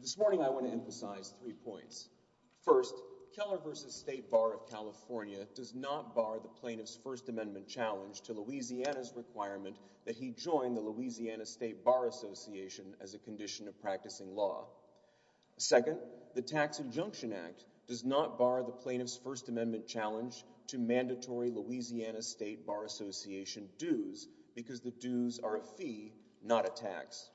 This morning I want to emphasize three points. First, Keller v. State Bar of California does not bar the plaintiff's First Amendment challenge to Louisiana's requirement that he join the Louisiana State Bar Association as a condition of practicing law. Second, the Tax Adjunction Act does not bar the plaintiff's First Amendment challenge to mandatory Louisiana State Bar Association dues because the dues are a fee, not a tax.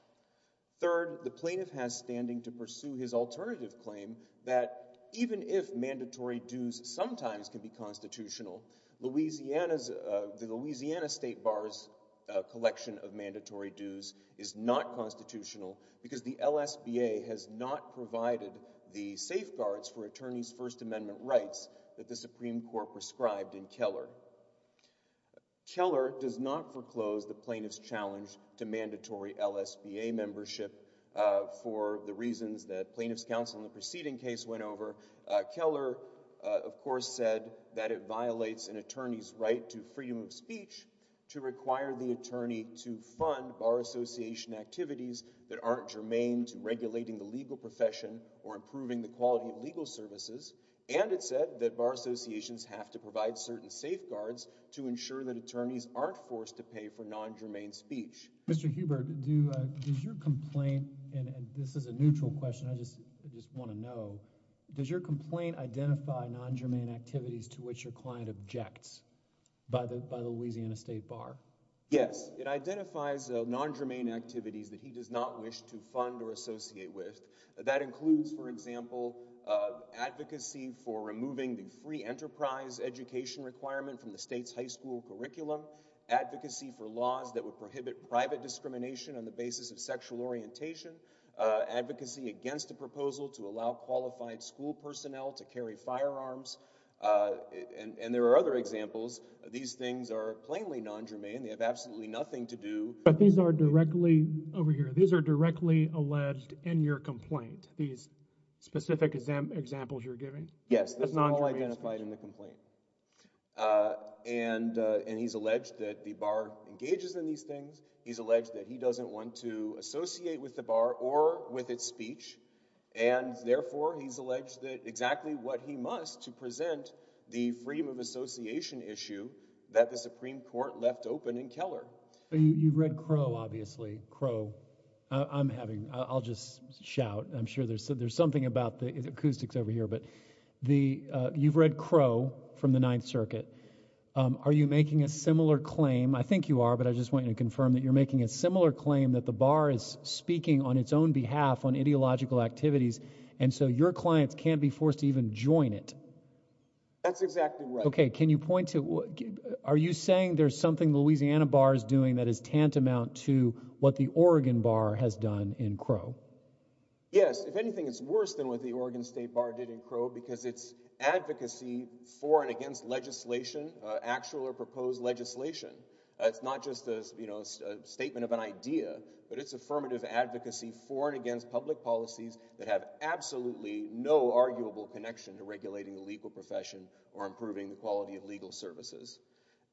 Third, the plaintiff has standing to pursue his alternative claim that even if mandatory dues sometimes can be constitutional, the Louisiana State Bar's collection of mandatory dues is not constitutional because the LSBA has not provided the safeguards for attorneys' First Amendment rights that the Supreme Court prescribed in Keller. Keller does not foreclose the plaintiff's challenge to mandatory LSBA membership for the reasons that plaintiff's counsel in the preceding case went over. Keller, of course, said that it violates an attorney's right to freedom of speech to require the attorney to fund Bar Association activities that aren't germane to regulating the legal profession or improving the quality of legal services, and it said that Bar Association has to provide certain safeguards to ensure that attorneys aren't forced to pay for non-germane speech. Mr. Hubert, does your complaint, and this is a neutral question I just want to know, does your complaint identify non-germane activities to which your client objects by the Louisiana State Bar? Yes, it identifies non-germane activities that he does not wish to fund or associate with. That includes, for example, advocacy for removing the free enterprise education requirement from the state's high school curriculum, advocacy for laws that would prohibit private discrimination on the basis of sexual orientation, advocacy against a proposal to allow qualified school personnel to carry firearms, and there are other examples. These things are plainly non-germane. They have absolutely nothing to do. But these are directly, over here, these are directly alleged in your complaint, these specific examples you're giving? Yes, this is all identified in the complaint, and he's alleged that the bar engages in these things. He's alleged that he doesn't want to associate with the bar or with its speech, and therefore he's alleged that exactly what he must to present the freedom of association issue that the Supreme Court left open in Keller. You've read Crowe, obviously, Crowe. I'm having, I'll just shout, I'm sorry, but the, you've read Crowe from the Ninth Circuit. Are you making a similar claim? I think you are, but I just want to confirm that you're making a similar claim that the bar is speaking on its own behalf on ideological activities, and so your clients can't be forced to even join it. That's exactly right. Okay, can you point to, are you saying there's something Louisiana Bar is doing that is tantamount to what the Oregon Bar has done in Crowe? Yes, if you read Crowe, because it's advocacy for and against legislation, actual or proposed legislation. It's not just a, you know, a statement of an idea, but it's affirmative advocacy for and against public policies that have absolutely no arguable connection to regulating the legal profession or improving the quality of legal services,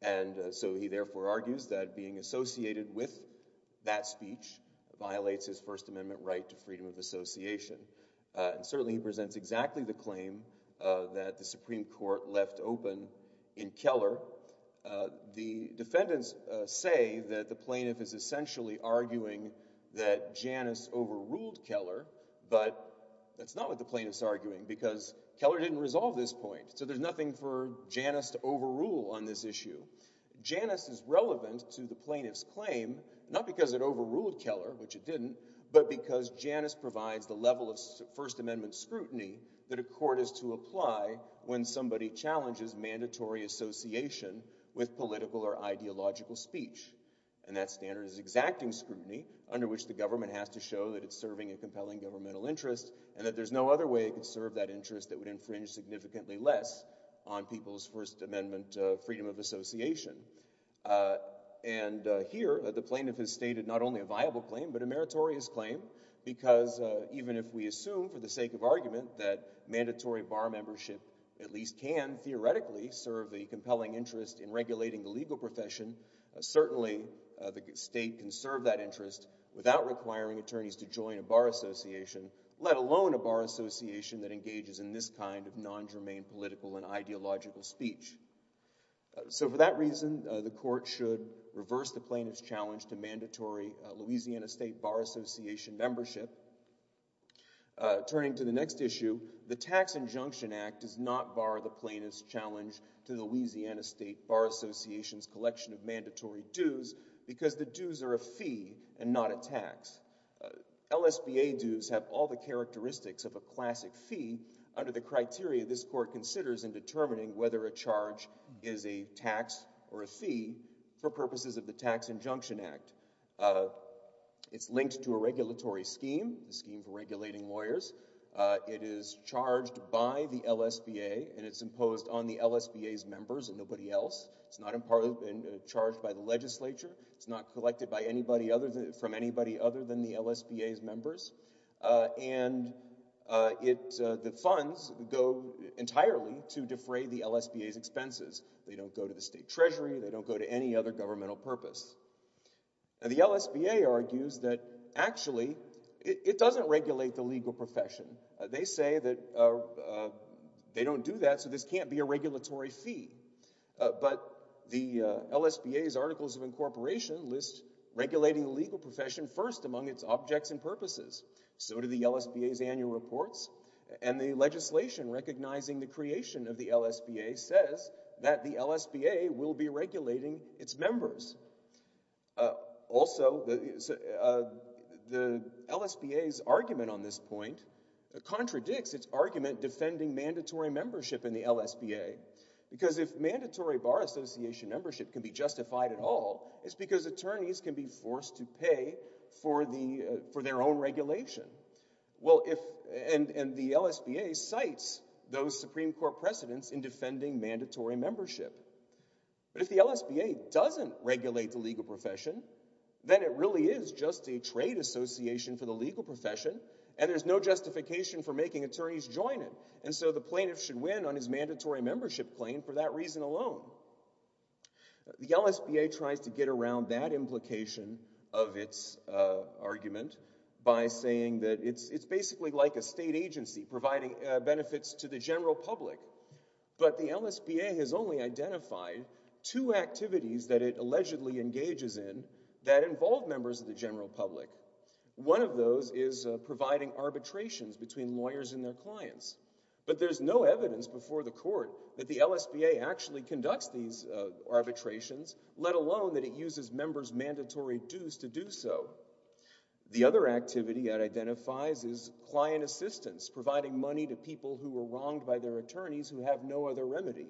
and so he therefore argues that being associated with that speech violates his First Amendment right to freedom of speech. Okay, so let's talk about the plaintiff's claim that the Supreme Court left open in Keller. The defendants say that the plaintiff is essentially arguing that Janus overruled Keller, but that's not what the plaintiff's arguing because Keller didn't resolve this point, so there's nothing for Janus to overrule on this issue. Janus is relevant to the plaintiff's claim, not because it violates his First Amendment right to freedom of speech, but because it violates his First Amendment right to freedom of speech. The plaintiff's claim is that the Supreme Court is to apply when somebody challenges mandatory association with political or ideological speech, and that standard is exacting scrutiny under which the government has to show that it's serving a compelling governmental interest and that there's no other way it could serve that interest that would infringe significantly less on people's First Amendment rights. So while mandatory bar membership at least can, theoretically, serve a compelling interest in regulating the legal profession, certainly the state can serve that interest without requiring attorneys to join a bar association, let alone a bar association that engages in this kind of non-germane political and ideological speech. So for that reason, the court should reverse the plaintiff's challenge to mandatory Louisiana State Bar Association membership. Turning to the next issue, the Tax Injunction Act does not bar the plaintiff's challenge to Louisiana State Bar Association's collection of mandatory dues because the dues are a fee and not a tax. LSBA dues have all the characteristics of a classic fee under the criteria this court considers in determining whether a charge is a tax or a fee for purposes of the Tax Injunction Act. It's linked to a regulatory scheme, the scheme for regulating lawyers. It is charged by the LSBA and it's imposed on the LSBA's members and nobody else. It's not charged by the legislature, it's not collected from anybody other than the LSBA's members, and the funds go entirely to defray the LSBA's expenses. They don't go to the state treasury, they go to the state office. The LSBA argues that actually it doesn't regulate the legal profession. They say that they don't do that so this can't be a regulatory fee, but the LSBA's Articles of Incorporation lists regulating the legal profession first among its objects and purposes. So do the LSBA's annual reports and the legislation recognizing the creation of the LSBA says that the Also, the LSBA's argument on this point contradicts its argument defending mandatory membership in the LSBA, because if mandatory Bar Association membership can be justified at all, it's because attorneys can be forced to pay for their own regulation. And the LSBA cites those Supreme Court precedents in defending mandatory membership. But if the LSBA doesn't regulate the legal profession, then it really is just a trade association for the legal profession and there's no justification for making attorneys join it. And so the plaintiff should win on his mandatory membership claim for that reason alone. The LSBA tries to get around that implication of its argument by saying that it's basically like a state agency providing benefits to the general public, but the LSBA has only identified two activities that it allegedly engages in that involve members of the general public. One of those is providing arbitrations between lawyers and their clients. But there's no evidence before the court that the LSBA actually conducts these arbitrations, let alone that it uses members' mandatory dues to do so. The other activity it identifies is client assistance, providing money to people who were wronged by their attorneys who have no other remedy.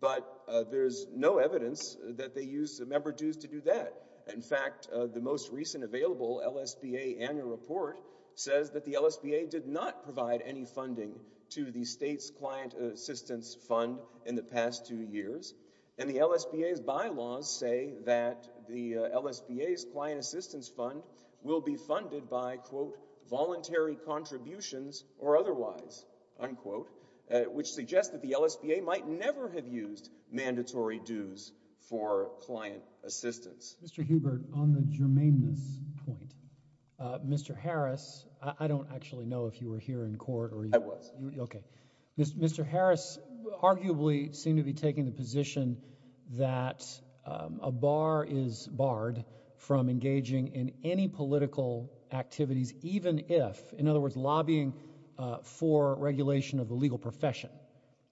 But there's no evidence that they use member dues to do that. In fact, the most recent available LSBA annual report says that the LSBA did not provide any funding to the state's client assistance fund in the past two years. And the LSBA's bylaws say that the LSBA's client assistance fund will be funded by, quote, voluntary contributions or otherwise, unquote, which suggests that the LSBA might never have used mandatory dues for client assistance. Mr. Hubert, on the germaneness point, Mr. Harris, I don't actually know if you were here in court or... I was. Okay. Mr. Harris arguably seemed to be taking the position that a bar is barred from engaging in any political activities, even if, in other words, lobbying for regulation of the legal profession.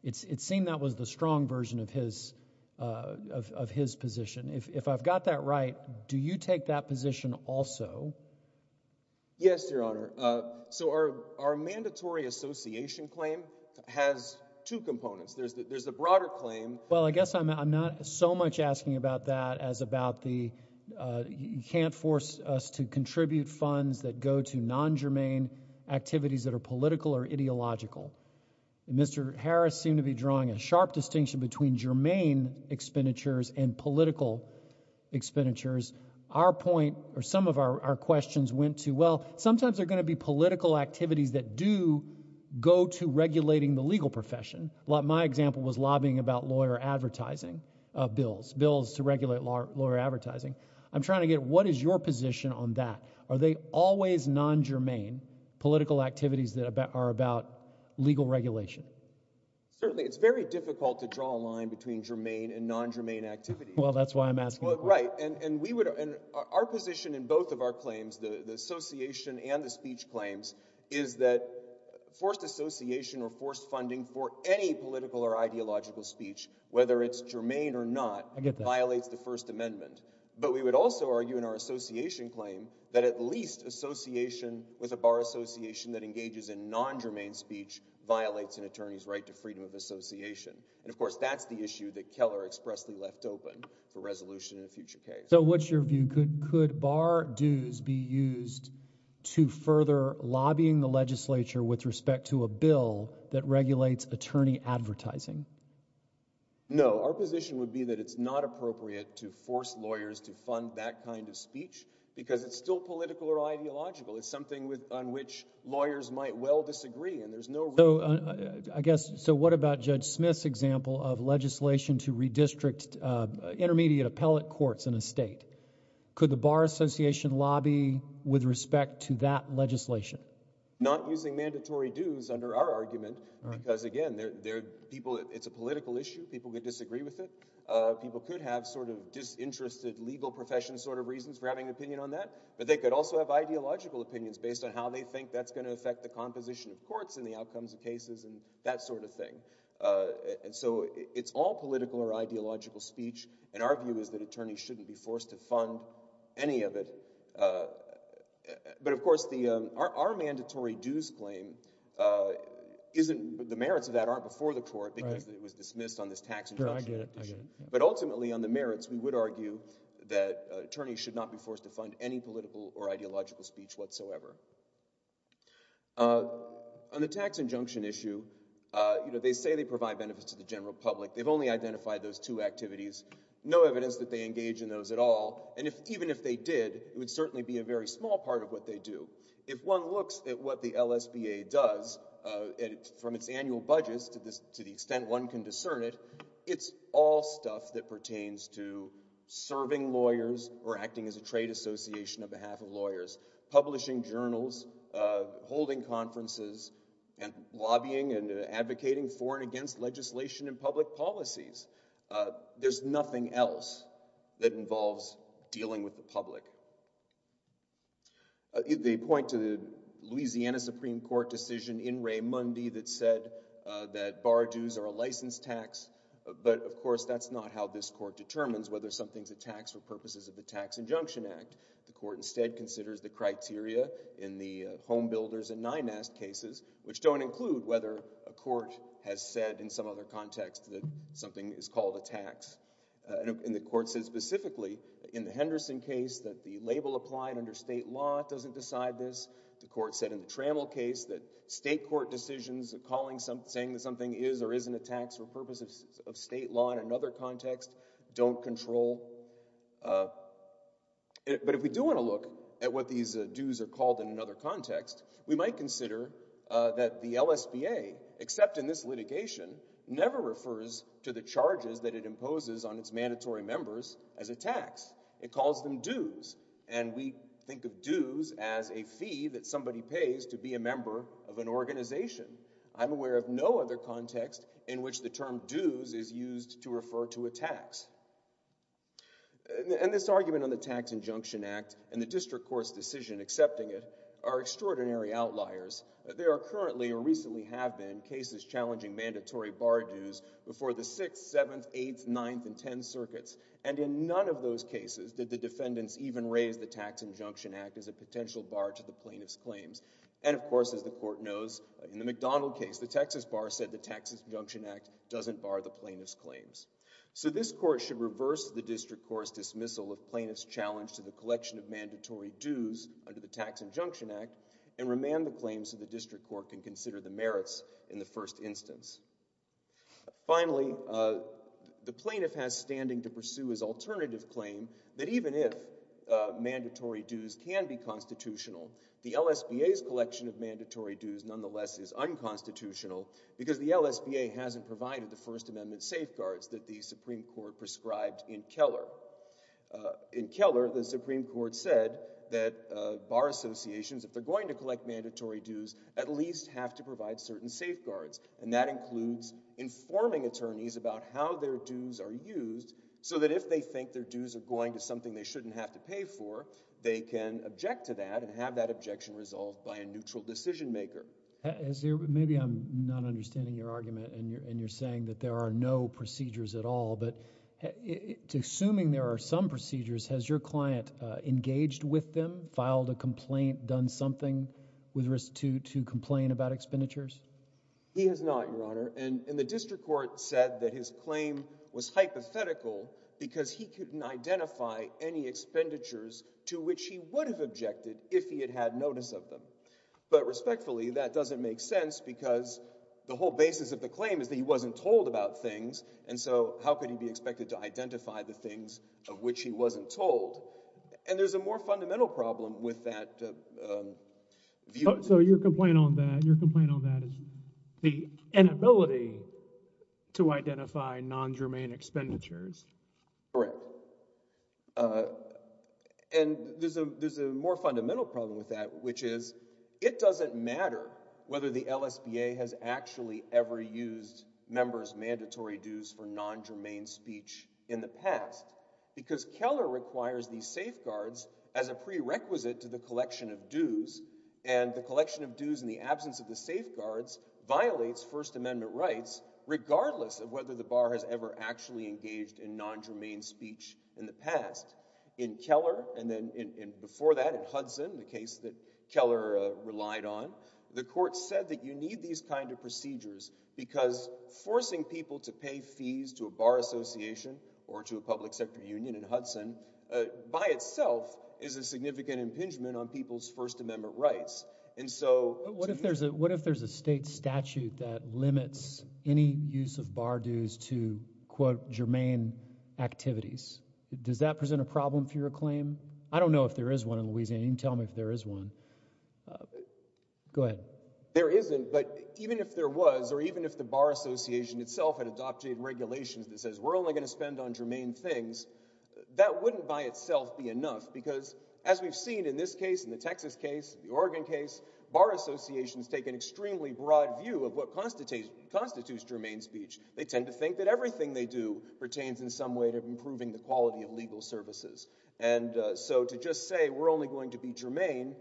It seemed that was the strong version of his position. If I've got that right, do you take that position also? Yes, Your Honor. So our mandatory association claim has two components. There's a broader claim... Well, I guess I'm not so much asking about that as about the, you can't force us to contribute funds that go to non-germane activities that are political or ideological. Mr. Harris seemed to be drawing a sharp distinction between germane expenditures and political expenditures. Our point or some of our questions went to, well, sometimes they're going to be political activities that do go to regulating the legal profession. My example was lobbying about lawyer advertising bills, bills to regulate lawyer advertising. I'm trying to get what is your position on that? Are they always non-germane political activities that are about legal regulation? Certainly, it's very difficult to draw a line between germane and non-germane activities. Well, that's why I'm asking. Right, and we would, and our position in both of our claims, the association and the speech claims, is that forced association or forced funding for any political or ideological speech, whether it's germane or not, violates the First Amendment. But we would also argue in our association claim that at least association with a non-germane speech violates an attorney's right to freedom of association. And, of course, that's the issue that Keller expressly left open for resolution in a future case. So what's your view? Could bar dues be used to further lobbying the legislature with respect to a bill that regulates attorney advertising? No, our position would be that it's not appropriate to force lawyers to fund that kind of speech because it's still political or ideological. It's something on which lawyers might well disagree and there's no... So, I guess, so what about Judge Smith's example of legislation to redistrict intermediate appellate courts in a state? Could the Bar Association lobby with respect to that legislation? Not using mandatory dues under our argument because, again, they're people, it's a political issue. People could disagree with it. People could have sort of disinterested legal profession sort of reasons for having an opinion based on how they think that's going to affect the composition of courts and the outcomes of cases and that sort of thing. And so it's all political or ideological speech and our view is that attorneys shouldn't be forced to fund any of it. But, of course, our mandatory dues claim isn't... the merits of that aren't before the court because it was dismissed on this tax exemption. But, ultimately, on the merits we would argue that attorneys should not be forced to fund any political or ideological speech whatsoever. On the tax injunction issue, you know, they say they provide benefits to the general public. They've only identified those two activities. No evidence that they engage in those at all and, even if they did, it would certainly be a very small part of what they do. If one looks at what the LSBA does from its annual budgets to the extent one can discern it, it's all stuff that pertains to serving lawyers or acting as a trade association on behalf of lawyers, publishing journals, holding conferences, and lobbying and advocating for and against legislation and public policies. There's nothing else that involves dealing with the public. They point to the Louisiana Supreme Court decision in Ray Mundy that said that bar dues are a license tax, but, of course, that's not how this court determines whether something's a tax for purposes of the Tax Injunction Act. The court, instead, considers the criteria in the Homebuilders and Nynest cases, which don't include whether a court has said in some other context that something is called a tax. And the court said specifically in the Henderson case that the label applied under state law doesn't decide this. The court said in the Trammell case that state court decisions of calling something, saying that something is or isn't a tax for state law in another context, don't control. But if we do want to look at what these dues are called in another context, we might consider that the LSBA, except in this litigation, never refers to the charges that it imposes on its mandatory members as a tax. It calls them dues, and we think of dues as a fee that somebody pays to be a member of an organization. I'm aware of no other context in which the term dues is used to refer to a tax. And this argument on the Tax Injunction Act, and the district court's decision accepting it, are extraordinary outliers. There are currently, or recently have been, cases challenging mandatory bar dues before the 6th, 7th, 8th, 9th, and 10th circuits, and in none of those cases did the defendants even raise the Tax Injunction Act as a potential bar to the plaintiff's claims. And, of course, as the Tax Injunction Act doesn't bar the plaintiff's claims. So this court should reverse the district court's dismissal of plaintiff's challenge to the collection of mandatory dues under the Tax Injunction Act, and remand the claims of the district court can consider the merits in the first instance. Finally, the plaintiff has standing to pursue his alternative claim that even if mandatory dues can be constitutional, the LSBA's collection of mandatory dues nonetheless is unconstitutional because the LSBA hasn't provided the First Amendment safeguards that the Supreme Court prescribed in Keller. In Keller, the Supreme Court said that bar associations, if they're going to collect mandatory dues, at least have to provide certain safeguards, and that includes informing attorneys about how their dues are used so that if they think their dues are going to something they shouldn't have to pay for, they can object to that and have that objection resolved by a neutral decision-maker. Maybe I'm not understanding your argument, and you're saying that there are no procedures at all, but assuming there are some procedures, has your client engaged with them, filed a complaint, done something with risk to complain about expenditures? He has not, Your Honor, and the district court said that his claim was hypothetical because he couldn't identify any expenditures to which he would have objected if he had had notice of them, but respectfully, that doesn't make sense because the whole basis of the claim is that he wasn't told about things, and so how could he be expected to identify the things of which he wasn't told? And there's a more fundamental problem with that view. So your complaint on that, your complaint on that is the inability to identify non-germane expenditures. Correct, and there's a there's a more fundamental problem with that, which is it doesn't matter whether the LSBA has actually ever used members' mandatory dues for non-germane speech in the past because Keller requires these safeguards as a prerequisite to the collection of dues, and the collection of dues in the absence of the safeguards violates First Amendment rights. So you can't say that the LSBA has ever actually engaged in non-germane speech in the past. In Keller and then in before that in Hudson, the case that Keller relied on, the court said that you need these kind of procedures because forcing people to pay fees to a bar association or to a public sector union in Hudson by itself is a significant impingement on people's that limits any use of bar dues to, quote, germane activities. Does that present a problem for your claim? I don't know if there is one in Louisiana. You can tell me if there is one. Go ahead. There isn't, but even if there was or even if the bar association itself had adopted regulations that says we're only going to spend on germane things, that wouldn't by itself be enough because as we've seen in this case, in the Texas case, the Oregon case, bar associations take an extremely broad view of what constitutes germane speech. They tend to think that everything they do pertains in some way to improving the quality of legal services. And so to just say we're only going to be germane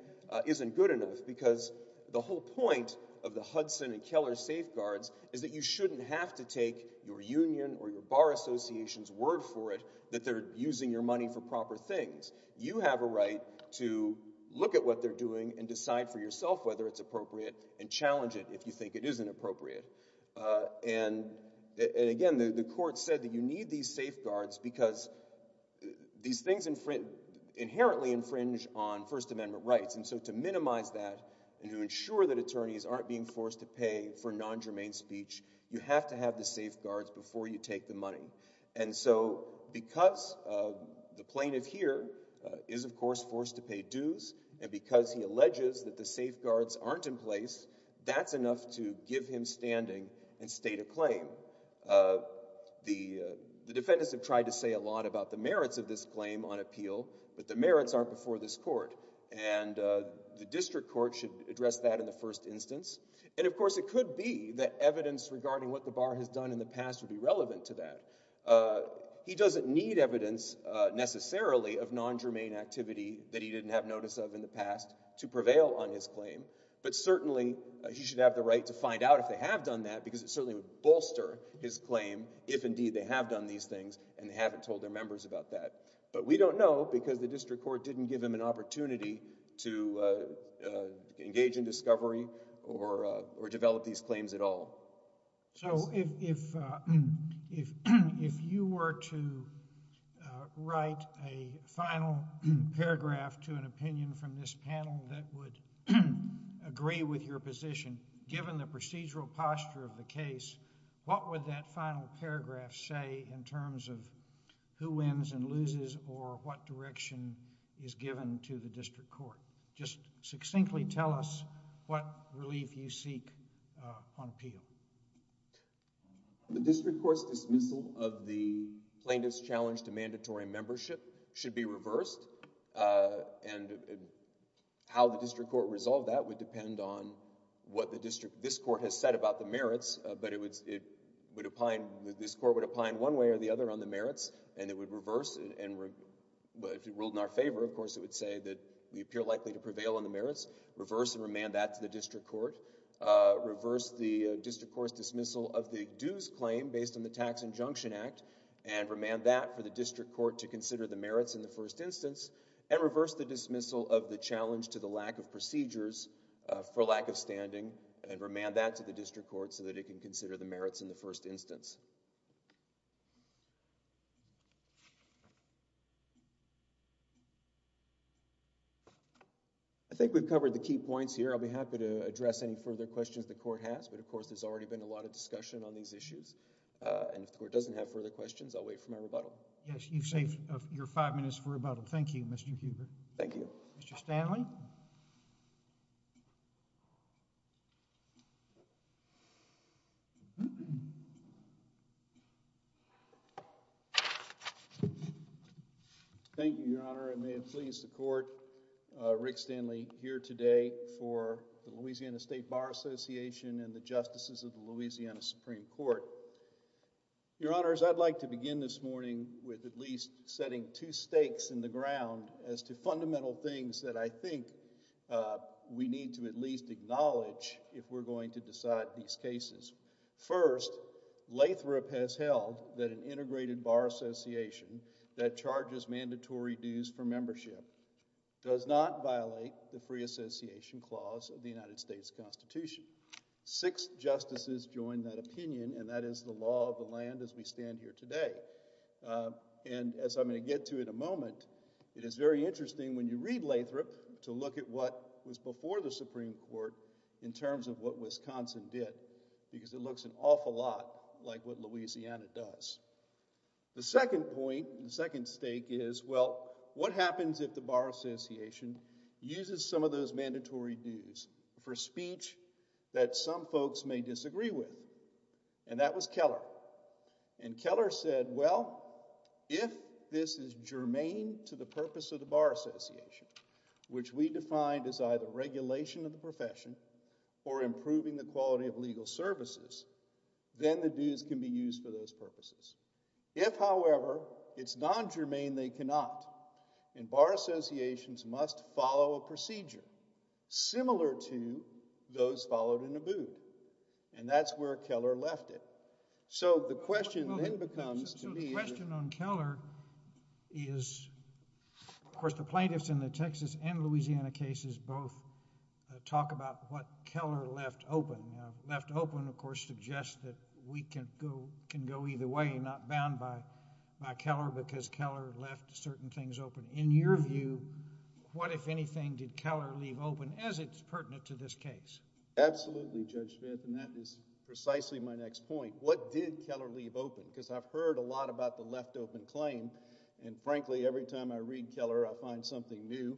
isn't good enough because the whole point of the Hudson and Keller safeguards is that you shouldn't have to take your union or your bar association's word for it that they're using your money for proper things. You have a right to look at what they're doing and decide for yourself whether it's appropriate and challenge it if you think it isn't appropriate. And again, the court said that you need these safeguards because these things inherently infringe on First Amendment rights. And so to minimize that and to ensure that attorneys aren't being forced to pay for non-germane speech, you have to have the safeguards before you take the money. And so because the plaintiff here is of course forced to pay dues and because he alleges that the safeguards aren't in place, that's enough to give him standing and state a claim. The defendants have tried to say a lot about the merits of this claim on appeal, but the merits aren't before this court. And the district court should address that in the first instance. And of course it could be that evidence regarding what the bar has done in the past would be relevant to that. He doesn't need evidence necessarily of non-germane activity that he didn't have notice of in the past to prevail on his claim. He doesn't have the right to find out if they have done that because it certainly would bolster his claim if indeed they have done these things and haven't told their members about that. But we don't know because the district court didn't give him an opportunity to engage in discovery or develop these claims at all. So if you were to write a final paragraph to an opinion from this case, given the procedural posture of the case, what would that final paragraph say in terms of who wins and loses or what direction is given to the district court? Just succinctly tell us what relief you seek on appeal. The district court's dismissal of the plaintiff's challenge to mandatory membership should be reversed and how the district court resolved that would depend on what the district, this court, has said about the merits. But it would, it would apply, this court would apply in one way or the other on the merits and it would reverse and if it ruled in our favor, of course, it would say that we appear likely to prevail on the merits. Reverse and remand that to the district court. Reverse the district court's dismissal of the dues claim based on the Tax Injunction Act and remand that for the district court to consider the merits in the first instance and reverse the dismissal of the challenge to the lack of procedures for lack of standing and remand that to the district court so that it can consider the merits in the first instance. I think we've covered the key points here. I'll be happy to address any further questions the court has but of course there's already been a lot of discussion on these issues and if the court doesn't have further questions, I'll wait for my rebuttal. Yes, you've saved your five minutes for rebuttal. Thank you, Mr. Cuber. Thank you. Mr. Stanley. Thank you, Your Honor. It may have pleased the court. Rick Stanley here today for the Louisiana State Bar Association and the Justices of the Louisiana Supreme Court. Your Honors, I'd like to begin this morning with at least setting two stakes in the ground as to fundamental things that I think we need to at least acknowledge if we're going to decide these cases. First, Lathrop has held that an integrated bar association that charges mandatory dues for membership does not violate the Free Association Clause of the United States Constitution. Six justices joined that opinion and that is the law of the land as we stand here today. And as I'm going to get to in a moment, it is very interesting when you read Lathrop to look at what was before the Supreme Court in terms of what Wisconsin did because it looks an awful lot like what Louisiana does. The second point, the second stake is, well, what happens if the Bar Association uses some of those mandatory dues for speech that some folks may disagree with? And that was Keller. And Keller said, well, if this is germane to the purpose of the Bar Association, which we defined as either regulation of the profession or improving the quality of legal services, then the dues can be used for those purposes. If, however, it's non-germane, they cannot. And Bar Associations must follow a procedure similar to those followed in Abood. And that's where so the question then becomes, the question on Keller is, of course, the plaintiffs in the Texas and Louisiana cases both talk about what Keller left open. Now, left open, of course, suggests that we can go either way, not bound by Keller because Keller left certain things open. In your view, what, if anything, did Keller leave open as it's pertinent to this case? Absolutely, Judge what did Keller leave open? Because I've heard a lot about the left open claim, and frankly, every time I read Keller, I find something new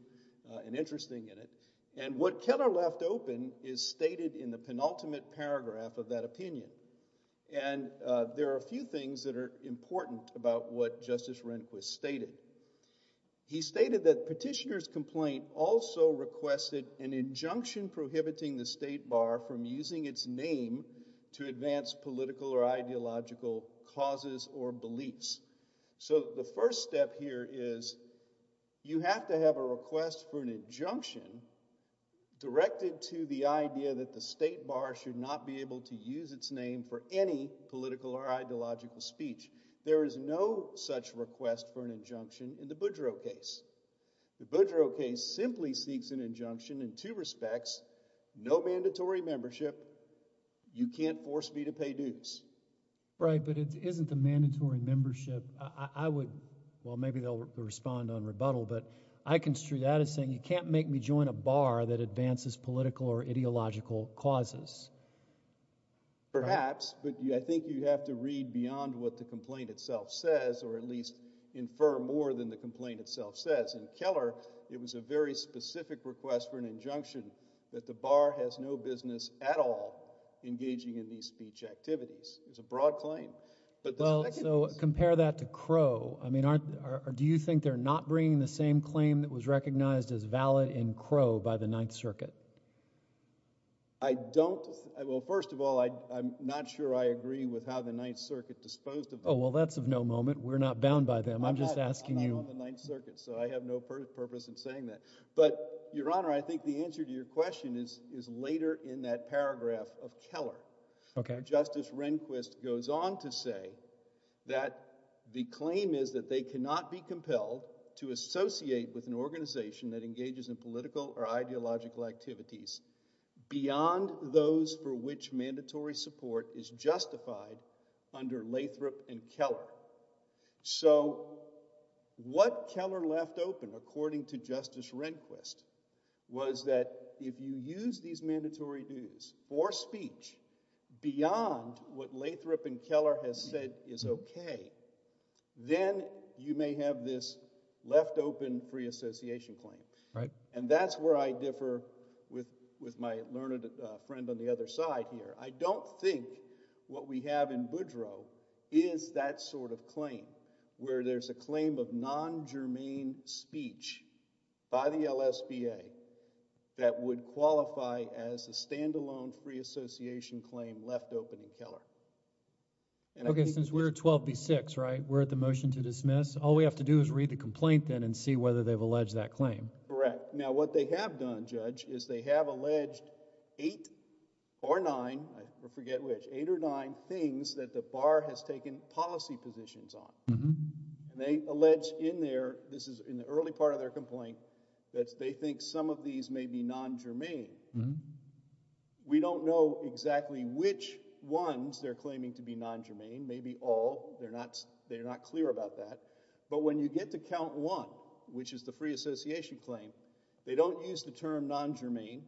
and interesting in it. And what Keller left open is stated in the penultimate paragraph of that opinion. And there are a few things that are important about what Justice Rehnquist stated. He stated that petitioner's complaint also requested an injunction prohibiting the state bar from using its name to advance political or ideological causes or beliefs. So the first step here is you have to have a request for an injunction directed to the idea that the state bar should not be able to use its name for any political or ideological speech. There is no such request for an injunction in the Boudreaux case. The Boudreaux case simply seeks an injunction in two respects. No mandatory membership. You can't force me to pay dues. Right, but it isn't a mandatory membership. I would, well, maybe they'll respond on rebuttal, but I construe that as saying you can't make me join a bar that advances political or ideological causes. Perhaps, but I think you have to read beyond what the complaint itself says, or at least infer more than the complaint itself says. In Keller, it was a very specific request for an injunction that the bar has no business at all engaging in these speech activities. It's a broad claim. Well, so compare that to Crow. I mean, do you think they're not bringing the same claim that was recognized as valid in Crow by the Ninth Circuit? I don't, well, first of all, I'm not sure I agree with how the Ninth Circuit disposed of them. Oh, well, that's of no moment. We're not bound by them. I'm just asking you. I'm not on the Ninth Circuit, so I have no purpose in saying that. But, Your Honor, I think the answer to your question is, is later in that paragraph of Keller. Okay. Justice Rehnquist goes on to say that the claim is that they cannot be compelled to associate with an organization that engages in political or ideological activities beyond those for which mandatory support is justified under Lathrop and Keller. So, what Keller left open, according to Justice Rehnquist, was that if you use these mandatory views or speech beyond what Lathrop and Keller has said is okay, then you may have this left-open free association claim. Right. And that's where I differ with with my learned friend on the other side here. I don't think what we have in Boudreau is that sort of claim, where there's a claim of non-germane speech by the LSBA that would qualify as a standalone free association claim left open in Keller. Okay, since we're 12 v. 6, right? We're at the motion to dismiss. All we have to do is read the complaint, then, and see whether they've alleged that claim. Correct. Now, what they have done, Judge, is they have alleged eight or nine, I forget which, eight or nine things that the bar has taken policy positions on. And they allege in there, this is in the early part of their complaint, that they think some of these may be non-germane. We don't know exactly which ones they're claiming to be non-germane, maybe all. They're not, they're not clear about that. But when you get to count one, which is the free association claim, they don't use the term non-germane,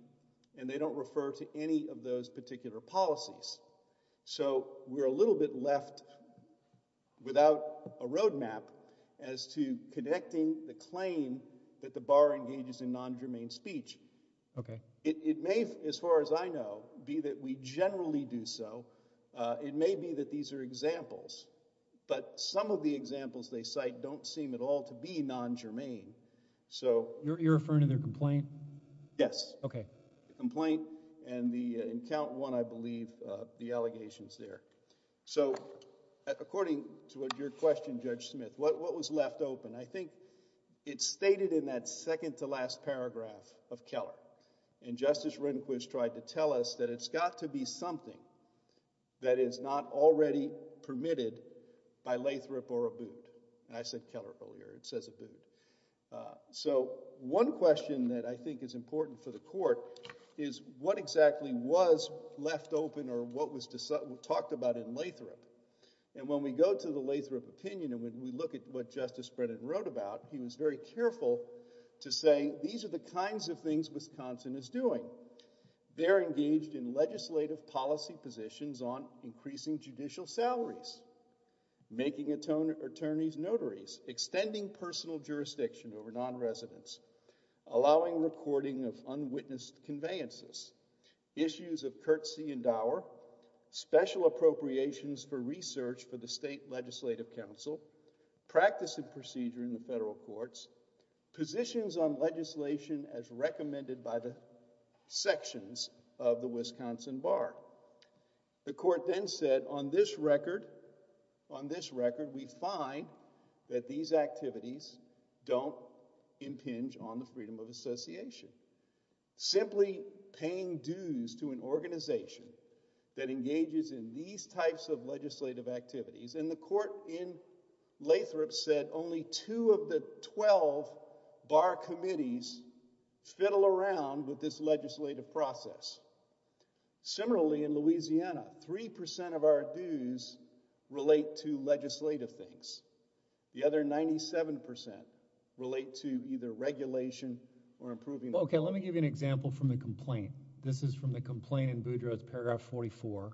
and they don't refer to any of those particular policies. So we're a little bit left without a roadmap as to connecting the claim that the bar engages in non-germane speech. Okay. It may, as far as I know, be that we generally do so. It may be that these are examples, but some of the might, don't seem at all to be non-germane. So you're referring to their complaint? Yes. Okay. Complaint and the, in count one, I believe, the allegations there. So according to what your question, Judge Smith, what was left open? I think it's stated in that second to last paragraph of Keller. And Justice Rehnquist tried to tell us that it's got to be something that is not already permitted by Lathrop or Abood. And I said Keller earlier, it says Abood. So one question that I think is important for the court is what exactly was left open or what was talked about in Lathrop? And when we go to the Lathrop opinion, and when we look at what Justice Brennan wrote about, he was very careful to say these are the kinds of things Wisconsin is doing. They're engaged in making attorneys notaries, extending personal jurisdiction over non-residents, allowing recording of unwitnessed conveyances, issues of courtesy and dower, special appropriations for research for the state legislative council, practice of procedure in the federal courts, positions on legislation as recommended by the sections of the Wisconsin Bar. The court then said on this record, on this record, we find that these activities don't impinge on the freedom of association. Simply paying dues to an organization that engages in these types of legislative activities. And the court in Lathrop said only two of the 12 bar committees fiddle around with this legislative process. Similarly, in Louisiana, 3% of our dues relate to legislative things. The other 97% relate to either regulation or improving. Okay, let me give you an example from the complaint. This is from the complaint in Boudreaux's paragraph 44.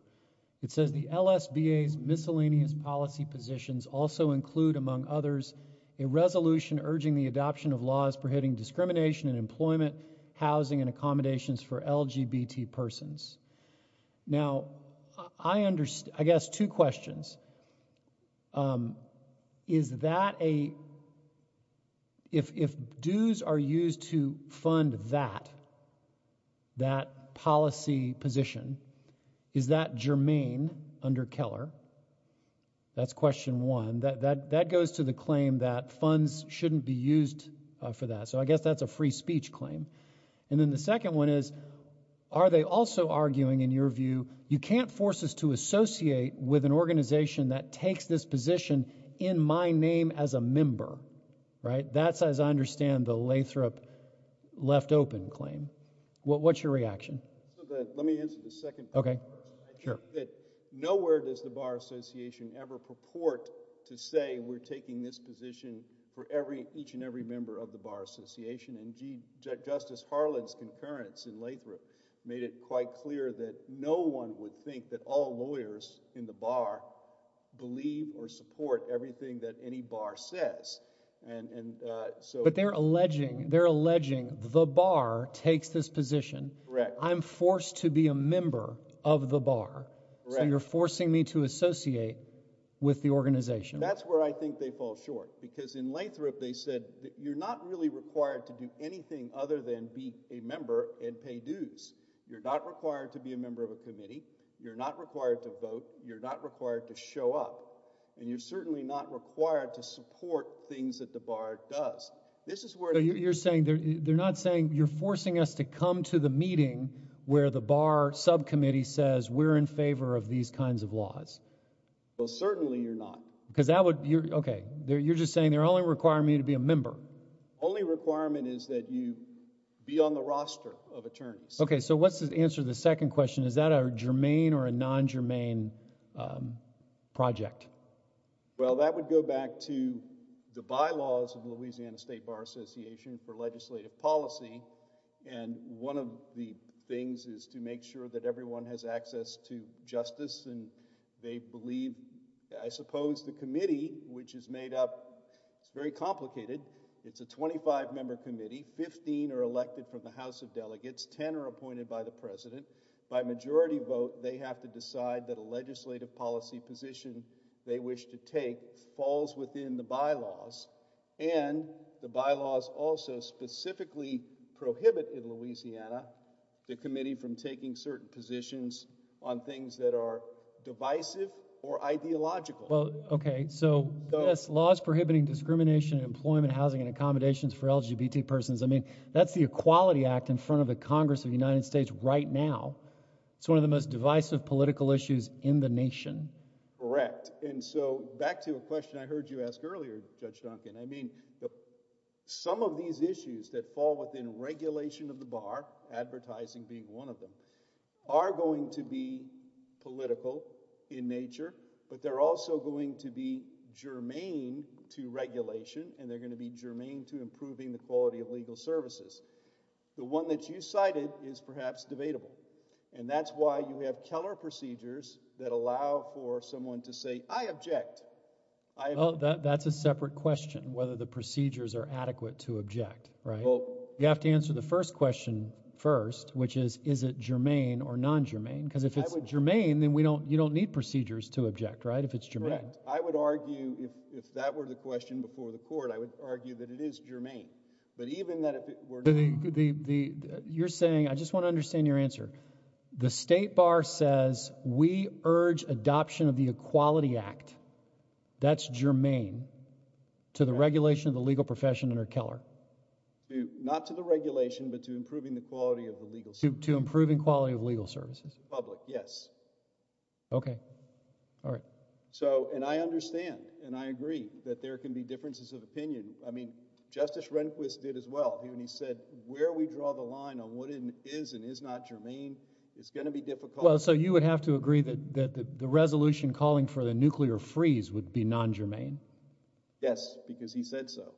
It says the L. S. B. A.'s miscellaneous policy positions also include, among others, a resolution urging the adoption of laws prohibiting discrimination in employment, housing and accommodations for LGBT persons. Now, I understand, I guess, two questions. Um, is that a if if dues are used to fund that, that policy position, is that germane under Keller? That's question one that that that goes to the claim that funds shouldn't be used for that. So I guess that's a second one is, are they also arguing in your view? You can't force us to associate with an organization that takes this position in my name as a member, right? That's as I understand the Lathrop left open claim. What's your reaction? Let me answer the second. Okay, sure. Nowhere does the Bar Association ever purport to say we're taking this position for every each and every member of the Bar Association. And Justice Harland's concurrence in Lathrop made it quite clear that no one would think that all lawyers in the bar believe or support everything that any bar says. And so, but they're alleging, they're alleging the bar takes this position. Correct. I'm forced to be a member of the bar. So you're forcing me to associate with the organization. That's where I think they fall short. Because in Lathrop they said that you're not really required to do anything other than be a member and pay dues. You're not required to be a member of a committee. You're not required to vote. You're not required to show up. And you're certainly not required to support things that the bar does. This is where you're saying they're not saying you're forcing us to come to the meeting where the bar subcommittee says we're in favor of these kinds of laws. Well certainly you're not. Because that would, you're okay, you're just saying they're only requiring me to be a member. Only requirement is that you be on the roster of attorneys. Okay, so what's the answer to the second question? Is that a germane or a non-germane project? Well that would go back to the bylaws of the Louisiana State Bar Association for legislative policy. And one of the things is to make sure that everyone has access to justice and they believe, I suppose the committee which is made up, it's very complicated. It's a 25 member committee. 15 are elected from the House of Delegates. 10 are appointed by the president. By majority vote they have to decide that a legislative policy position they wish to take falls within the bylaws. And the bylaws also specifically prohibit in Louisiana the divisive or ideological. Well okay, so yes, laws prohibiting discrimination in employment, housing, and accommodations for LGBT persons. I mean that's the Equality Act in front of the Congress of the United States right now. It's one of the most divisive political issues in the nation. Correct. And so back to a question I heard you ask earlier, Judge Duncan. I mean some of these issues that fall within regulation of the bar, advertising being one of them, are going to be political in nature. But they're also going to be germane to regulation and they're going to be germane to improving the quality of legal services. The one that you cited is perhaps debatable. And that's why you have Keller procedures that allow for someone to say, I object. That's a separate question, whether the procedures are adequate to object, right? You have to Because if it's germane, then we don't, you don't need procedures to object, right? If it's germane. I would argue if that were the question before the court, I would argue that it is germane. But even that... You're saying, I just want to understand your answer. The state bar says we urge adoption of the Equality Act. That's germane to the regulation of the legal profession under Keller. Not to the regulation, but to improving the quality of the legal system. To improving quality of legal services. Public, yes. Okay. All right. So, and I understand and I agree that there can be differences of opinion. I mean, Justice Rehnquist did as well. He said, where we draw the line on what is and is not germane, it's going to be difficult. Well, so you would have to agree that the resolution calling for the nuclear freeze would be non-germane? Yes, because he said so.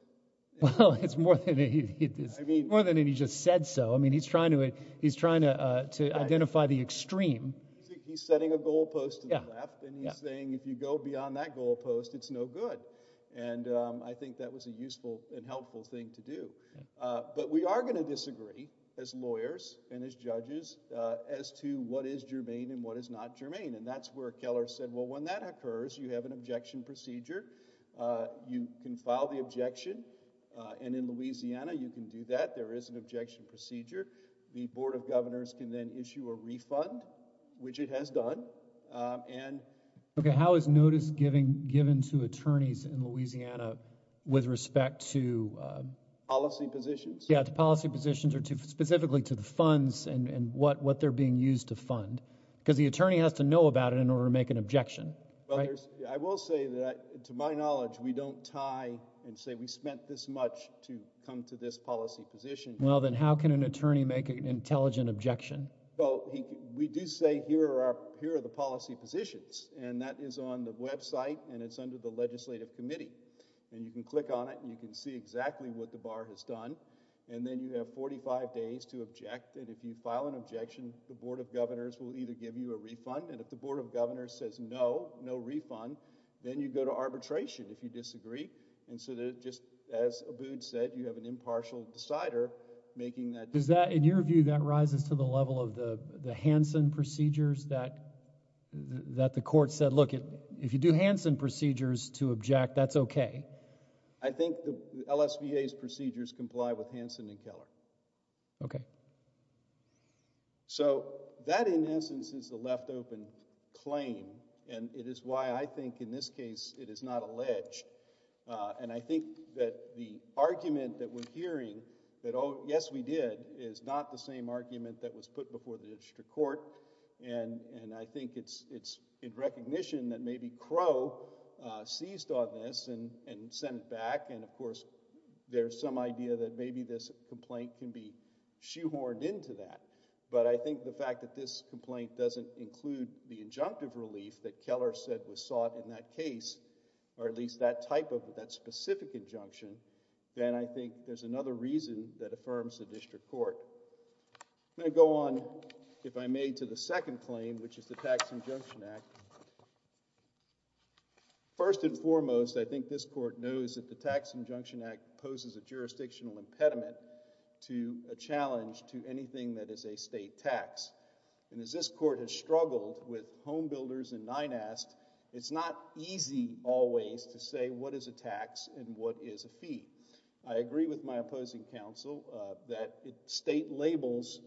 Well, it's more than he just said so. I mean, he's trying to, he's trying to identify the extreme. He's setting a goalpost to the left, and he's saying if you go beyond that goalpost, it's no good. And I think that was a useful and helpful thing to do. But we are going to disagree, as lawyers and as judges, as to what is germane and what is not germane. And that's where Keller said, well, when that occurs, you have an objection procedure. You can file the objection, and in Louisiana, you can do that. There is an objection procedure. The Board of Governors can then issue a refund, which it has done. Okay, how is notice given to attorneys in Louisiana with respect to policy positions? Yeah, to policy positions or specifically to the funds and what they're being used to fund? Because the attorney has to know about it in order to make an objection. I will say that, to my knowledge, we don't tie and say we spent this much to come to this policy position. Well, then how can an attorney make an intelligent objection? Well, we do say here are the policy positions, and that is on the website, and it's under the Legislative Committee. And you can click on it, and you can see exactly what the bar has done. And then you have 45 days to object. And if you file an objection, the Board of Governors will either give you a refund, and if the Board of Governors says no, no As Abood said, you have an impartial decider making that decision. In your view, that rises to the level of the Hanson procedures that the court said, look, if you do Hanson procedures to object, that's okay? I think the LSVAs procedures comply with Hanson and Keller. Okay. So that, in essence, is the left-open claim, and it is why I think in this case it is not the argument that we're hearing that, oh, yes, we did, is not the same argument that was put before the district court. And I think it's in recognition that maybe Crow seized on this and sent it back. And, of course, there's some idea that maybe this complaint can be shoehorned into that. But I think the fact that this complaint doesn't include the injunctive relief that Keller said was sought in that case, or at least that type of that specific injunction, then I think there's another reason that affirms the district court. I'm going to go on, if I may, to the second claim, which is the Tax Injunction Act. First and foremost, I think this court knows that the Tax Injunction Act poses a jurisdictional impediment to a challenge to anything that is a state tax. And as this court has struggled with homebuilders and NINAST, it's not easy always to say what is a tax and what is a fee. I agree with my opposing counsel that state labels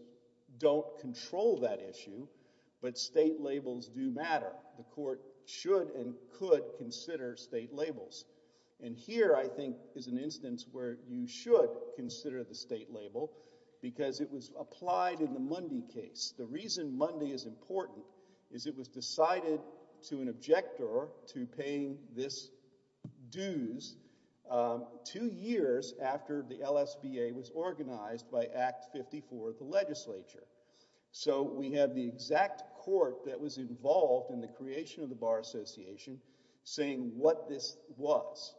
don't control that issue, but state labels do matter. The court should and could consider state labels. And here, I think, is an instance where you should consider the state label because it was applied in the same way that it was applied in the Bar Association. And the reason why this Monday is important is it was decided to an objector to paying this dues two years after the LSBA was organized by Act 54 of the legislature. So we have the exact court that was involved in the creation of the Bar Association saying what this was.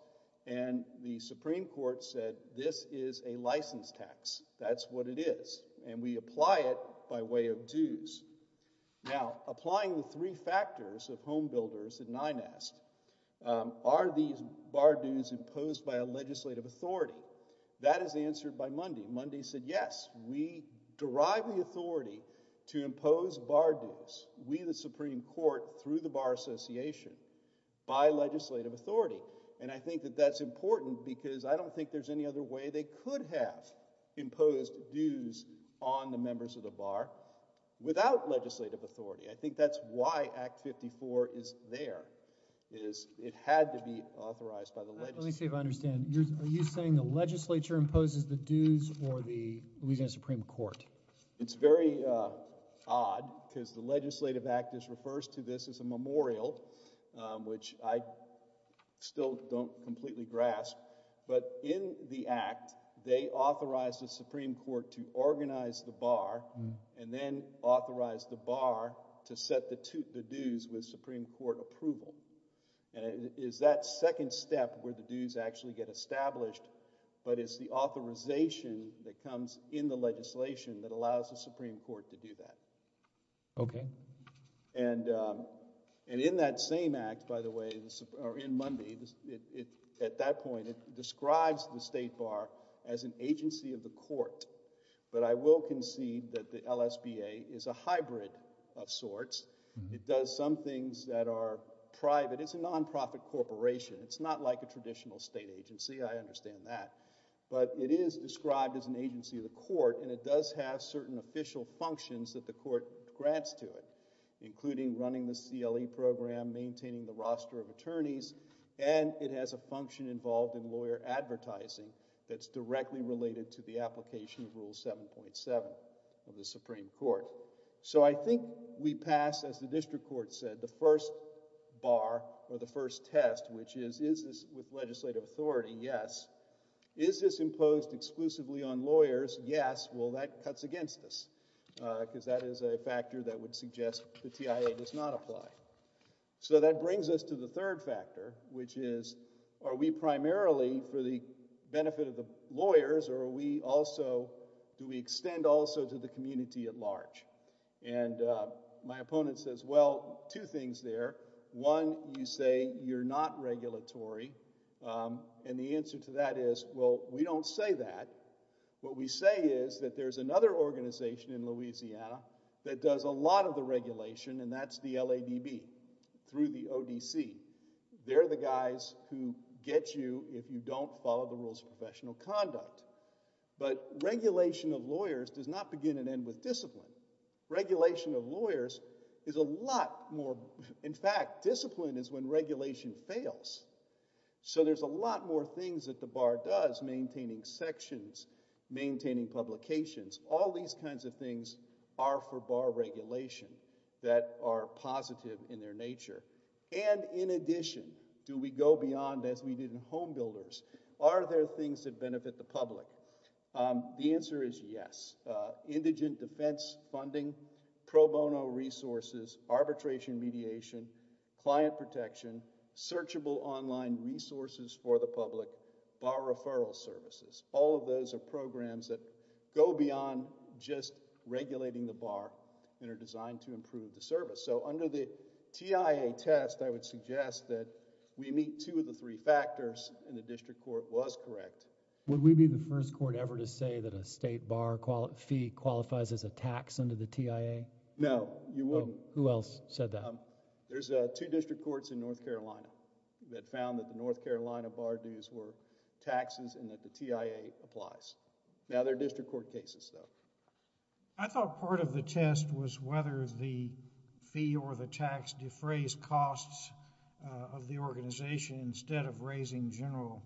And the Supreme Court said this is a license tax. That's what it is. And we apply it by way of dues. Now, applying the three factors of homebuilders and NINAST, are these bar dues imposed by a legislative authority? That is answered by Mundy. Mundy said, yes, we derive the authority to impose bar association by legislative authority. And I think that that's important because I don't think there's any other way they could have imposed dues on the members of the Bar without legislative authority. I think that's why Act 54 is there. It had to be authorized by the legislature. Let me see if I understand. Are you saying the legislature imposes the dues or the Louisiana Supreme Court? It's very odd because the legislative act just refers to this as a memorial, which I still don't completely grasp. But in the act, they authorized the Supreme Court to organize the bar and then authorized the bar to set the dues with Supreme Court approval. And it is that second step where the dues actually get established, but it's the authorization that comes in the legislation that does that. Okay. And in that same act, by the way, or in Mundy, at that point it describes the state bar as an agency of the court. But I will concede that the LSBA is a hybrid of sorts. It does some things that are private. It's a nonprofit corporation. It's not like a traditional state agency. I understand that. But it is described as an agency of the court and it does have certain official functions that the court grants to it, including running the CLE program, maintaining the roster of attorneys, and it has a function involved in lawyer advertising that's directly related to the application of Rule 7.7 of the Supreme Court. So I think we pass, as the district court said, the first bar or the first test, which is, is this with legislative authority? Yes. Is this imposed exclusively on lawyers? Yes. Well, that cuts against us because that is a factor that would suggest the TIA does not apply. So that brings us to the third factor, which is, are we primarily for the benefit of the lawyers or are we also, do we extend also to the community at large? And my opponent says, well, two things there. One, you say you're not regulatory. And the answer to that is, well, we don't say that. What we say is that there's another organization in Louisiana that does a lot of the regulation and that's the LADB through the ODC. They're the guys who get you if you don't follow the rules of professional conduct. But regulation of lawyers does not begin and end with discipline. Regulation of lawyers is a lot more, in fact, discipline is when you're not just maintaining sections, maintaining publications. All these kinds of things are for bar regulation that are positive in their nature. And in addition, do we go beyond, as we did in homebuilders, are there things that benefit the public? The answer is yes. Indigent defense funding, pro bono resources, arbitration mediation, client protection, searchable online resources for the public, bar referral services, all of those are programs that go beyond just regulating the bar and are designed to improve the service. So under the TIA test, I would suggest that we meet two of the three factors and the district court was correct. Would we be the first court ever to say that a state bar fee qualifies as a tax under the TIA? No, you wouldn't. Who else said that? There's two district courts in North Carolina that found that the North Carolina bar dues were taxes and that the TIA applies. Now, they're district court cases, though. I thought part of the test was whether the fee or the tax defrays costs of the organization instead of raising general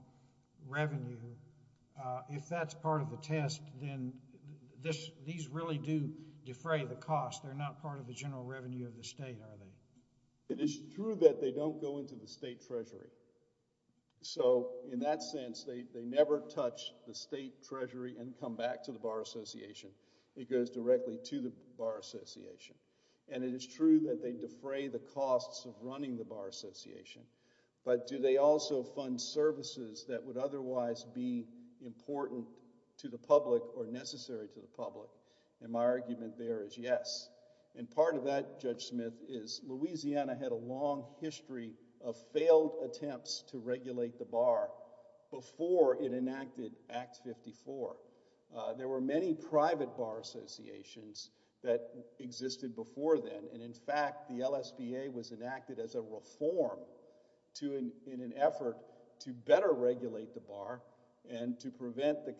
revenue. If that's part of the test, then these really do defray the cost. They're not part of the general revenue of the state, are they? It is true that they don't go into the state treasury. So in that sense, they never touch the state treasury and come back to the Bar Association. It goes directly to the Bar Association. And it is true that they defray the costs of running the Bar Association. But do they also fund services that would otherwise be important to the public or necessary to the public? And my argument there is yes. And part of that, Judge Smith, is Louisiana had a long history of failed attempts to regulate the bar before it enacted Act 54. There were many private bar associations that existed before then. And in fact, the LSBA was enacted as a reform in an effort to better regulate the bar and to prevent the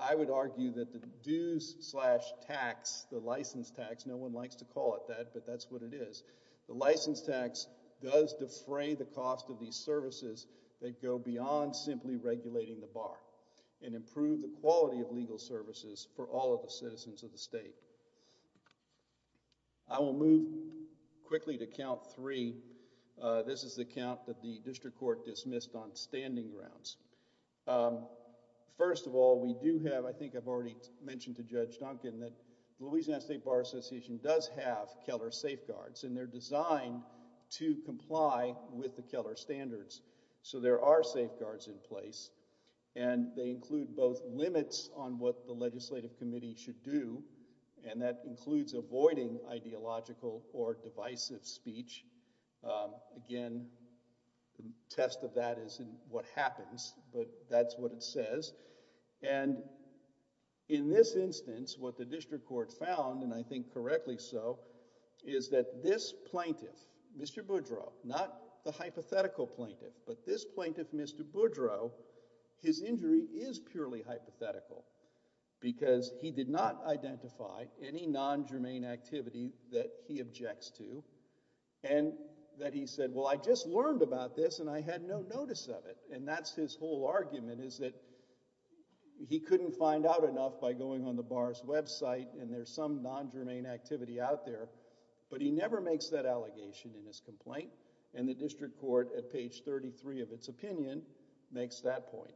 I would argue that the dues slash tax, the license tax, no one likes to call it that, but that's what it is. The license tax does defray the cost of these services that go beyond simply regulating the bar and improve the quality of legal services for all of the citizens of the state. I will move quickly to count three. This is the count that the district court dismissed on standing grounds. First of all, we do have, I think I've already mentioned to Judge Duncan that Louisiana State Bar Association does have Keller safeguards and they're designed to comply with the Keller standards. So there are safeguards in place and they include both limits on what the legislative committee should do. And that includes avoiding ideological or that isn't what happens, but that's what it says. And in this instance, what the district court found, and I think correctly so, is that this plaintiff, Mr. Boudreaux, not the hypothetical plaintiff, but this plaintiff, Mr. Boudreaux, his injury is purely hypothetical because he did not identify any non germane activity that he objects to and that he said, well, I just learned about this and I had no notice of it. And that's his whole argument is that he couldn't find out enough by going on the bar's website and there's some non germane activity out there. But he never makes that allegation in his complaint. And the district court at page 33 of its opinion makes that point.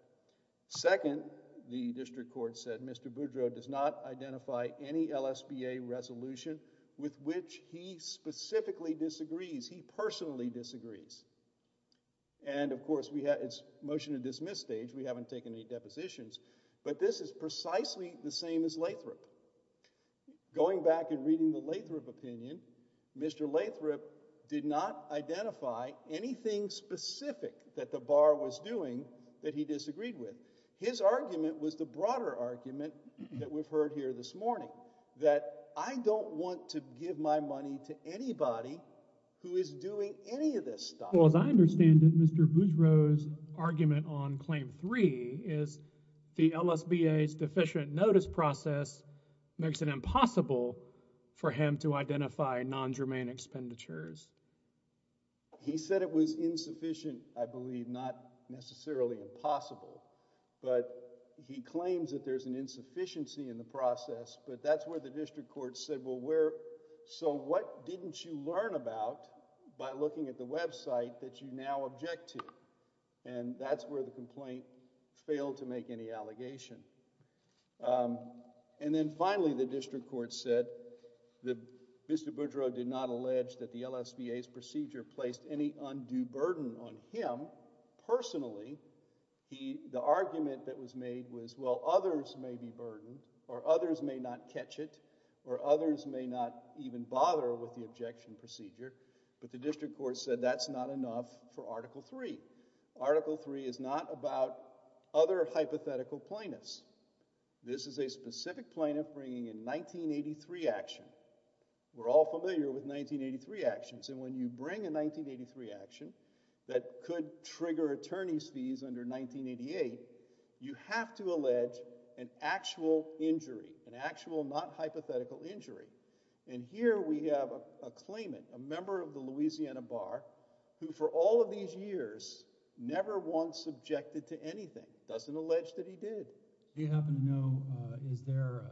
Second, the district court said Mr Boudreaux does not identify any L. S. B. A. Resolution with which he specifically disagrees. He personally disagrees. And of course we had its motion to dismiss stage. We haven't taken any depositions, but this is precisely the same as Lathrop. Going back and reading the Lathrop opinion, Mr Lathrop did not identify anything specific that the bar was doing that he disagreed with. His argument was the broader argument that we've heard here this morning, that I don't want to give my money to anybody who is doing any of this stuff. Well, as I understand it, Mr Boudreaux's argument on claim three is the L. S. B. A.'s deficient notice process makes it impossible for him to identify non germane expenditures. He said it was insufficient. I believe not necessarily impossible, but he claims that there's an insufficiency in the process. But that's where the So what didn't you learn about by looking at the website that you now object to? And that's where the complaint failed to make any allegation. Um, and then finally, the district court said that Mr Boudreaux did not allege that the L. S. B. A.'s procedure placed any undue burden on him personally. The argument that was made was, well, others may be burdened or others may not even bother with the objection procedure. But the district court said that's not enough for Article three. Article three is not about other hypothetical plaintiffs. This is a specific plaintiff bringing in 1983 action. We're all familiar with 1983 actions. And when you bring a 1983 action that could trigger attorney's fees under 1988, you have to And here we have a claimant, a member of the Louisiana Bar, who, for all of these years, never once objected to anything. Doesn't allege that he did. He happened to know. Is there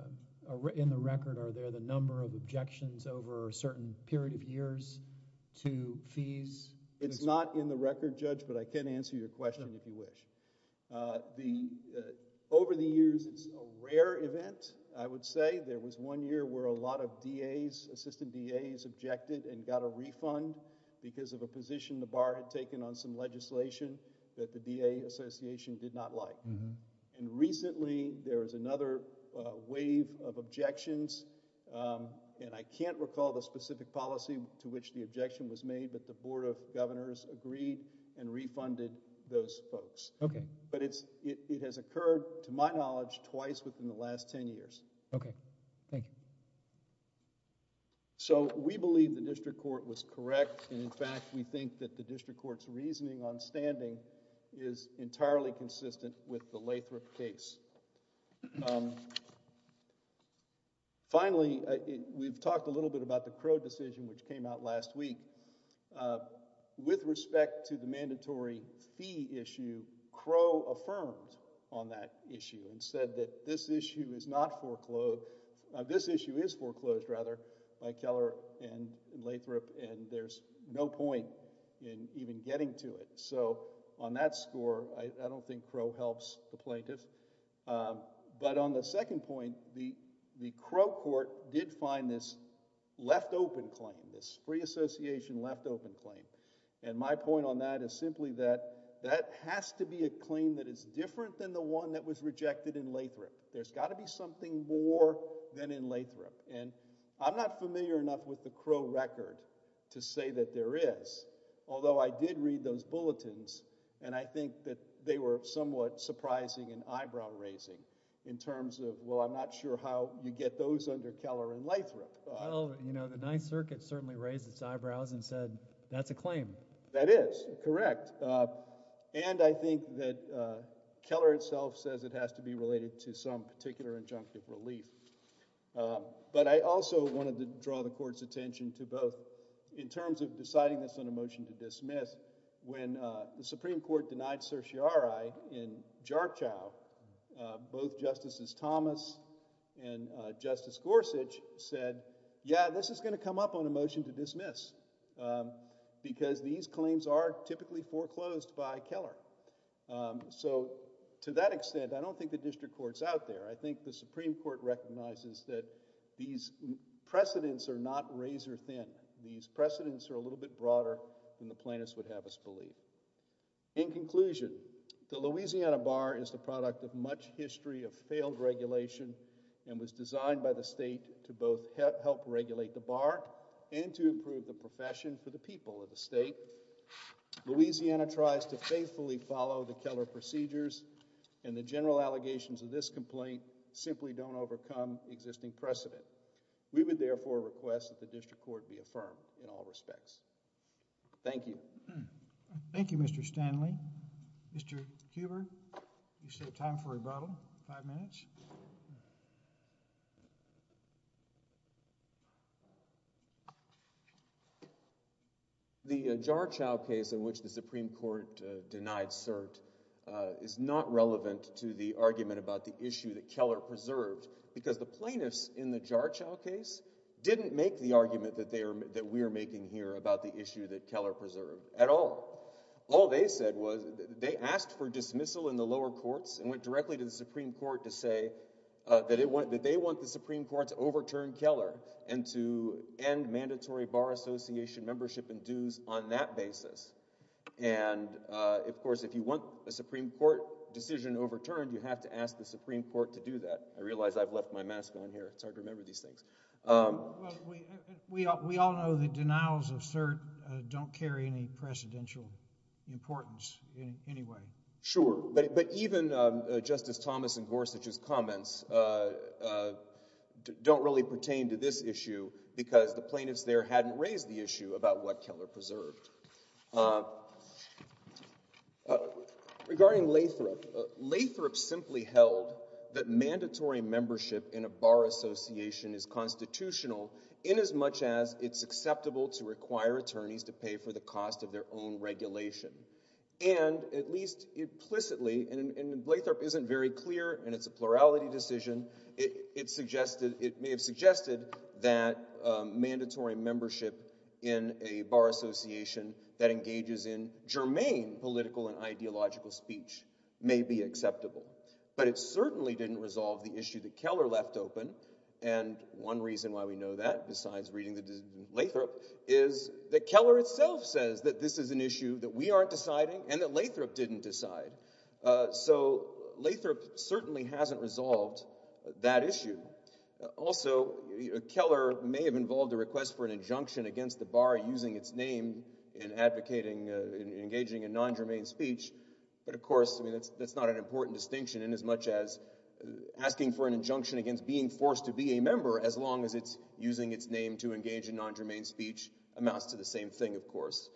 in the record? Are there the number of objections over a certain period of years to fees? It's not in the record, Judge, but I can answer your question if you wish. Uh, the over the years, a rare event. I would say there was one year where a lot of D. A. S. Assistant D. A. S. Objected and got a refund because of a position the bar had taken on some legislation that the D. A. Association did not like. And recently, there is another wave of objections. Um, and I can't recall the specific policy to which the objection was made, but the board of governors agreed and twice within the last 10 years. Okay, thank you. So we believe the district court was correct. In fact, we think that the district court's reasoning on standing is entirely consistent with the Lathrop case. Um, finally, we've talked a little bit about the Crow decision, which came out last week. Uh, with respect to the mandatory fee issue, Crow affirmed on that issue and said that this issue is not foreclosed. This issue is foreclosed rather by Keller and Lathrop, and there's no point in even getting to it. So on that score, I don't think Crow helps the plaintiffs. But on the second point, the Crow court did find this left open claim, this free association left open claim. And my point on that is simply that that has to be a claim that is different than the one that was rejected in Lathrop. There's got to be something more than in Lathrop, and I'm not familiar enough with the Crow record to say that there is. Although I did read those bulletins, and I think that they were somewhat surprising and eyebrow raising in terms of well, I'm not sure how you get those under Keller and Lathrop. You know, the Ninth Circuit certainly raised its eyebrows and said that's a claim that is correct. And I think that Keller itself says it has to be related to some particular injunctive relief. Uh, but I also wanted to draw the court's attention to both in terms of deciding this on a motion to dismiss. When the Supreme Court denied certiorari in Jarchow, both Justices Thomas and Justice Gorsuch said, Yeah, this is gonna come up on a dismiss because these claims are typically foreclosed by Keller. So to that extent, I don't think the district court's out there. I think the Supreme Court recognizes that these precedents are not razor thin. These precedents are a little bit broader than the plaintiffs would have us believe. In conclusion, the Louisiana bar is the product of much history of failed regulation and was designed by the state to both help regulate the bar and to improve the profession for the people of the state. Louisiana tries to faithfully follow the Keller procedures, and the general allegations of this complaint simply don't overcome existing precedent. We would, therefore, request that the district court be affirmed in all respects. Thank you. Thank you, Mr Stanley. Mr Cuber, you said time for rebuttal five minutes. The Jarchow case in which the Supreme Court denied cert is not relevant to the argument about the issue that Keller preserved because the plaintiffs in the Jarchow case didn't make the argument that they are that we're making here about the issue that Keller preserved at all. All they said was they asked for dismissal in the lower courts and went directly to the Supreme Court to say that it went that they want the Supreme Court to our association membership and dues on that basis. And, of course, if you want the Supreme Court decision overturned, you have to ask the Supreme Court to do that. I realize I've left my mask on here. It's hard to remember these things. We all know the denials of cert don't carry any precedential importance in any way. Sure, but even Justice Thomas and Gorsuch's comments, uh, don't really pertain to this issue because the plaintiffs in the Jarchow case did not raise the issue about what Keller preserved. Uh, uh, regarding Lathrop, Lathrop simply held that mandatory membership in a bar association is constitutional inasmuch as it's acceptable to require attorneys to pay for the cost of their own regulation. And at least implicitly, and Lathrop isn't very clear, and it's a plurality decision, it suggested it may have suggested that mandatory membership in a bar association that engages in germane political and ideological speech may be acceptable. But it certainly didn't resolve the issue that Keller left open. And one reason why we know that, besides reading the Lathrop, is that Keller itself says that this is an issue that we aren't deciding and that we can't decide. Uh, so Lathrop certainly hasn't resolved that issue. Also, Keller may have involved a request for an injunction against the bar using its name in advocating, uh, in engaging in non-germane speech. But of course, I mean, that's, that's not an important distinction inasmuch as asking for an injunction against being forced to be a member, as long as it's using its name to engage in non-germane speech amounts to the same thing, of course.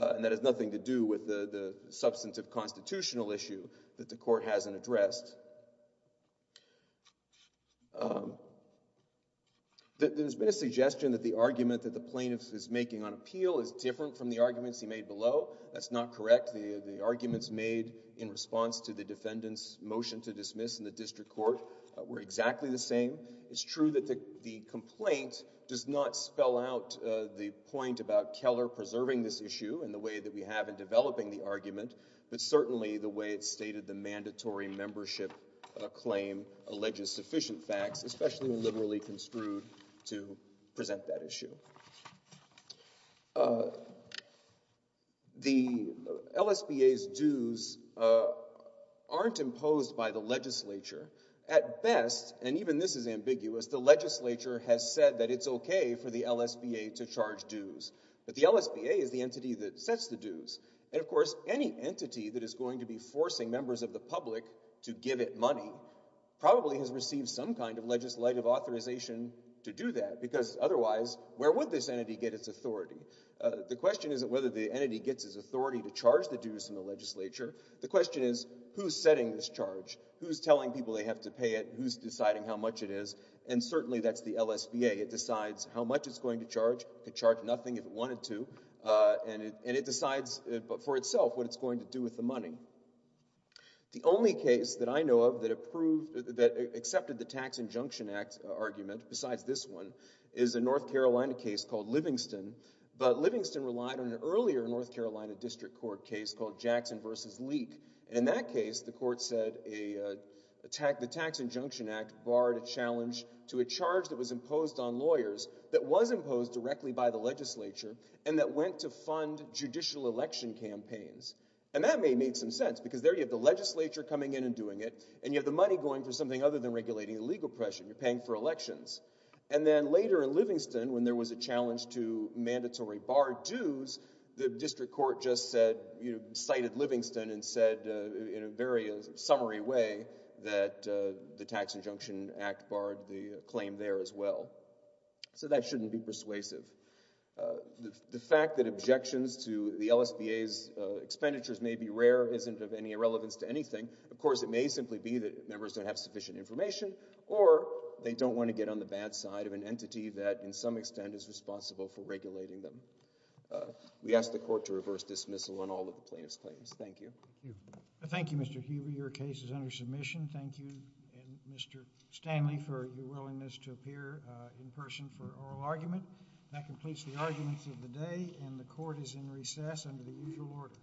Uh, and that has nothing to do with the, the substantive constitutional issue that the court hasn't addressed. Um, that there's been a suggestion that the argument that the plaintiff is making on appeal is different from the arguments he made below. That's not correct. The, the arguments made in response to the defendant's motion to dismiss in the district court, uh, were exactly the same. It's true that the, the complaint does not spell out, uh, the point about that we have in developing the argument, but certainly the way it's stated, the mandatory membership, uh, claim alleges sufficient facts, especially when liberally construed to present that issue. Uh, the LSBA's dues, uh, aren't imposed by the legislature. At best, and even this is ambiguous, the legislature has said that it's okay for the LSBA to charge dues, but the LSBA is the entity that sets the dues. And of course, any entity that is going to be forcing members of the public to give it money probably has received some kind of legislative authorization to do that, because otherwise, where would this entity get its authority? Uh, the question isn't whether the entity gets his authority to charge the dues in the legislature. The question is, who's setting this charge? Who's telling people they have to pay it? Who's deciding how much it is? And certainly that's the LSBA. It decides how much it's going to charge. It could charge nothing if it wanted to. Uh, and it, and it decides for itself what it's going to do with the money. The only case that I know of that approved, that accepted the Tax Injunction Act argument, besides this one, is a North Carolina case called Livingston. But Livingston relied on an earlier North Carolina district court case called Jackson v. Leek. And in that case, the court said a, uh, the tax, the Tax Injunction Act barred a charge that was imposed on lawyers, that was imposed directly by the legislature, and that went to fund judicial election campaigns. And that may have made some sense, because there you have the legislature coming in and doing it, and you have the money going for something other than regulating illegal oppression. You're paying for elections. And then later in Livingston, when there was a challenge to mandatory barred dues, the district court just said, you know, cited Livingston and said, uh, in a very, uh, summary way that, uh, the Tax Injunction Act barred the claim there as well. So that shouldn't be persuasive. Uh, the fact that objections to the LSBA's expenditures may be rare isn't of any relevance to anything. Of course, it may simply be that members don't have sufficient information, or they don't want to get on the bad side of an entity that, in some extent, is responsible for regulating them. Uh, we ask the court to reverse dismissal on all of the plaintiff's claims. Thank you. Thank you, Mr. Hueber. Your case is under admission. Thank you, Mr. Stanley, for your willingness to appear in person for oral argument. That completes the arguments of the day, and the court is in recess under the usual order.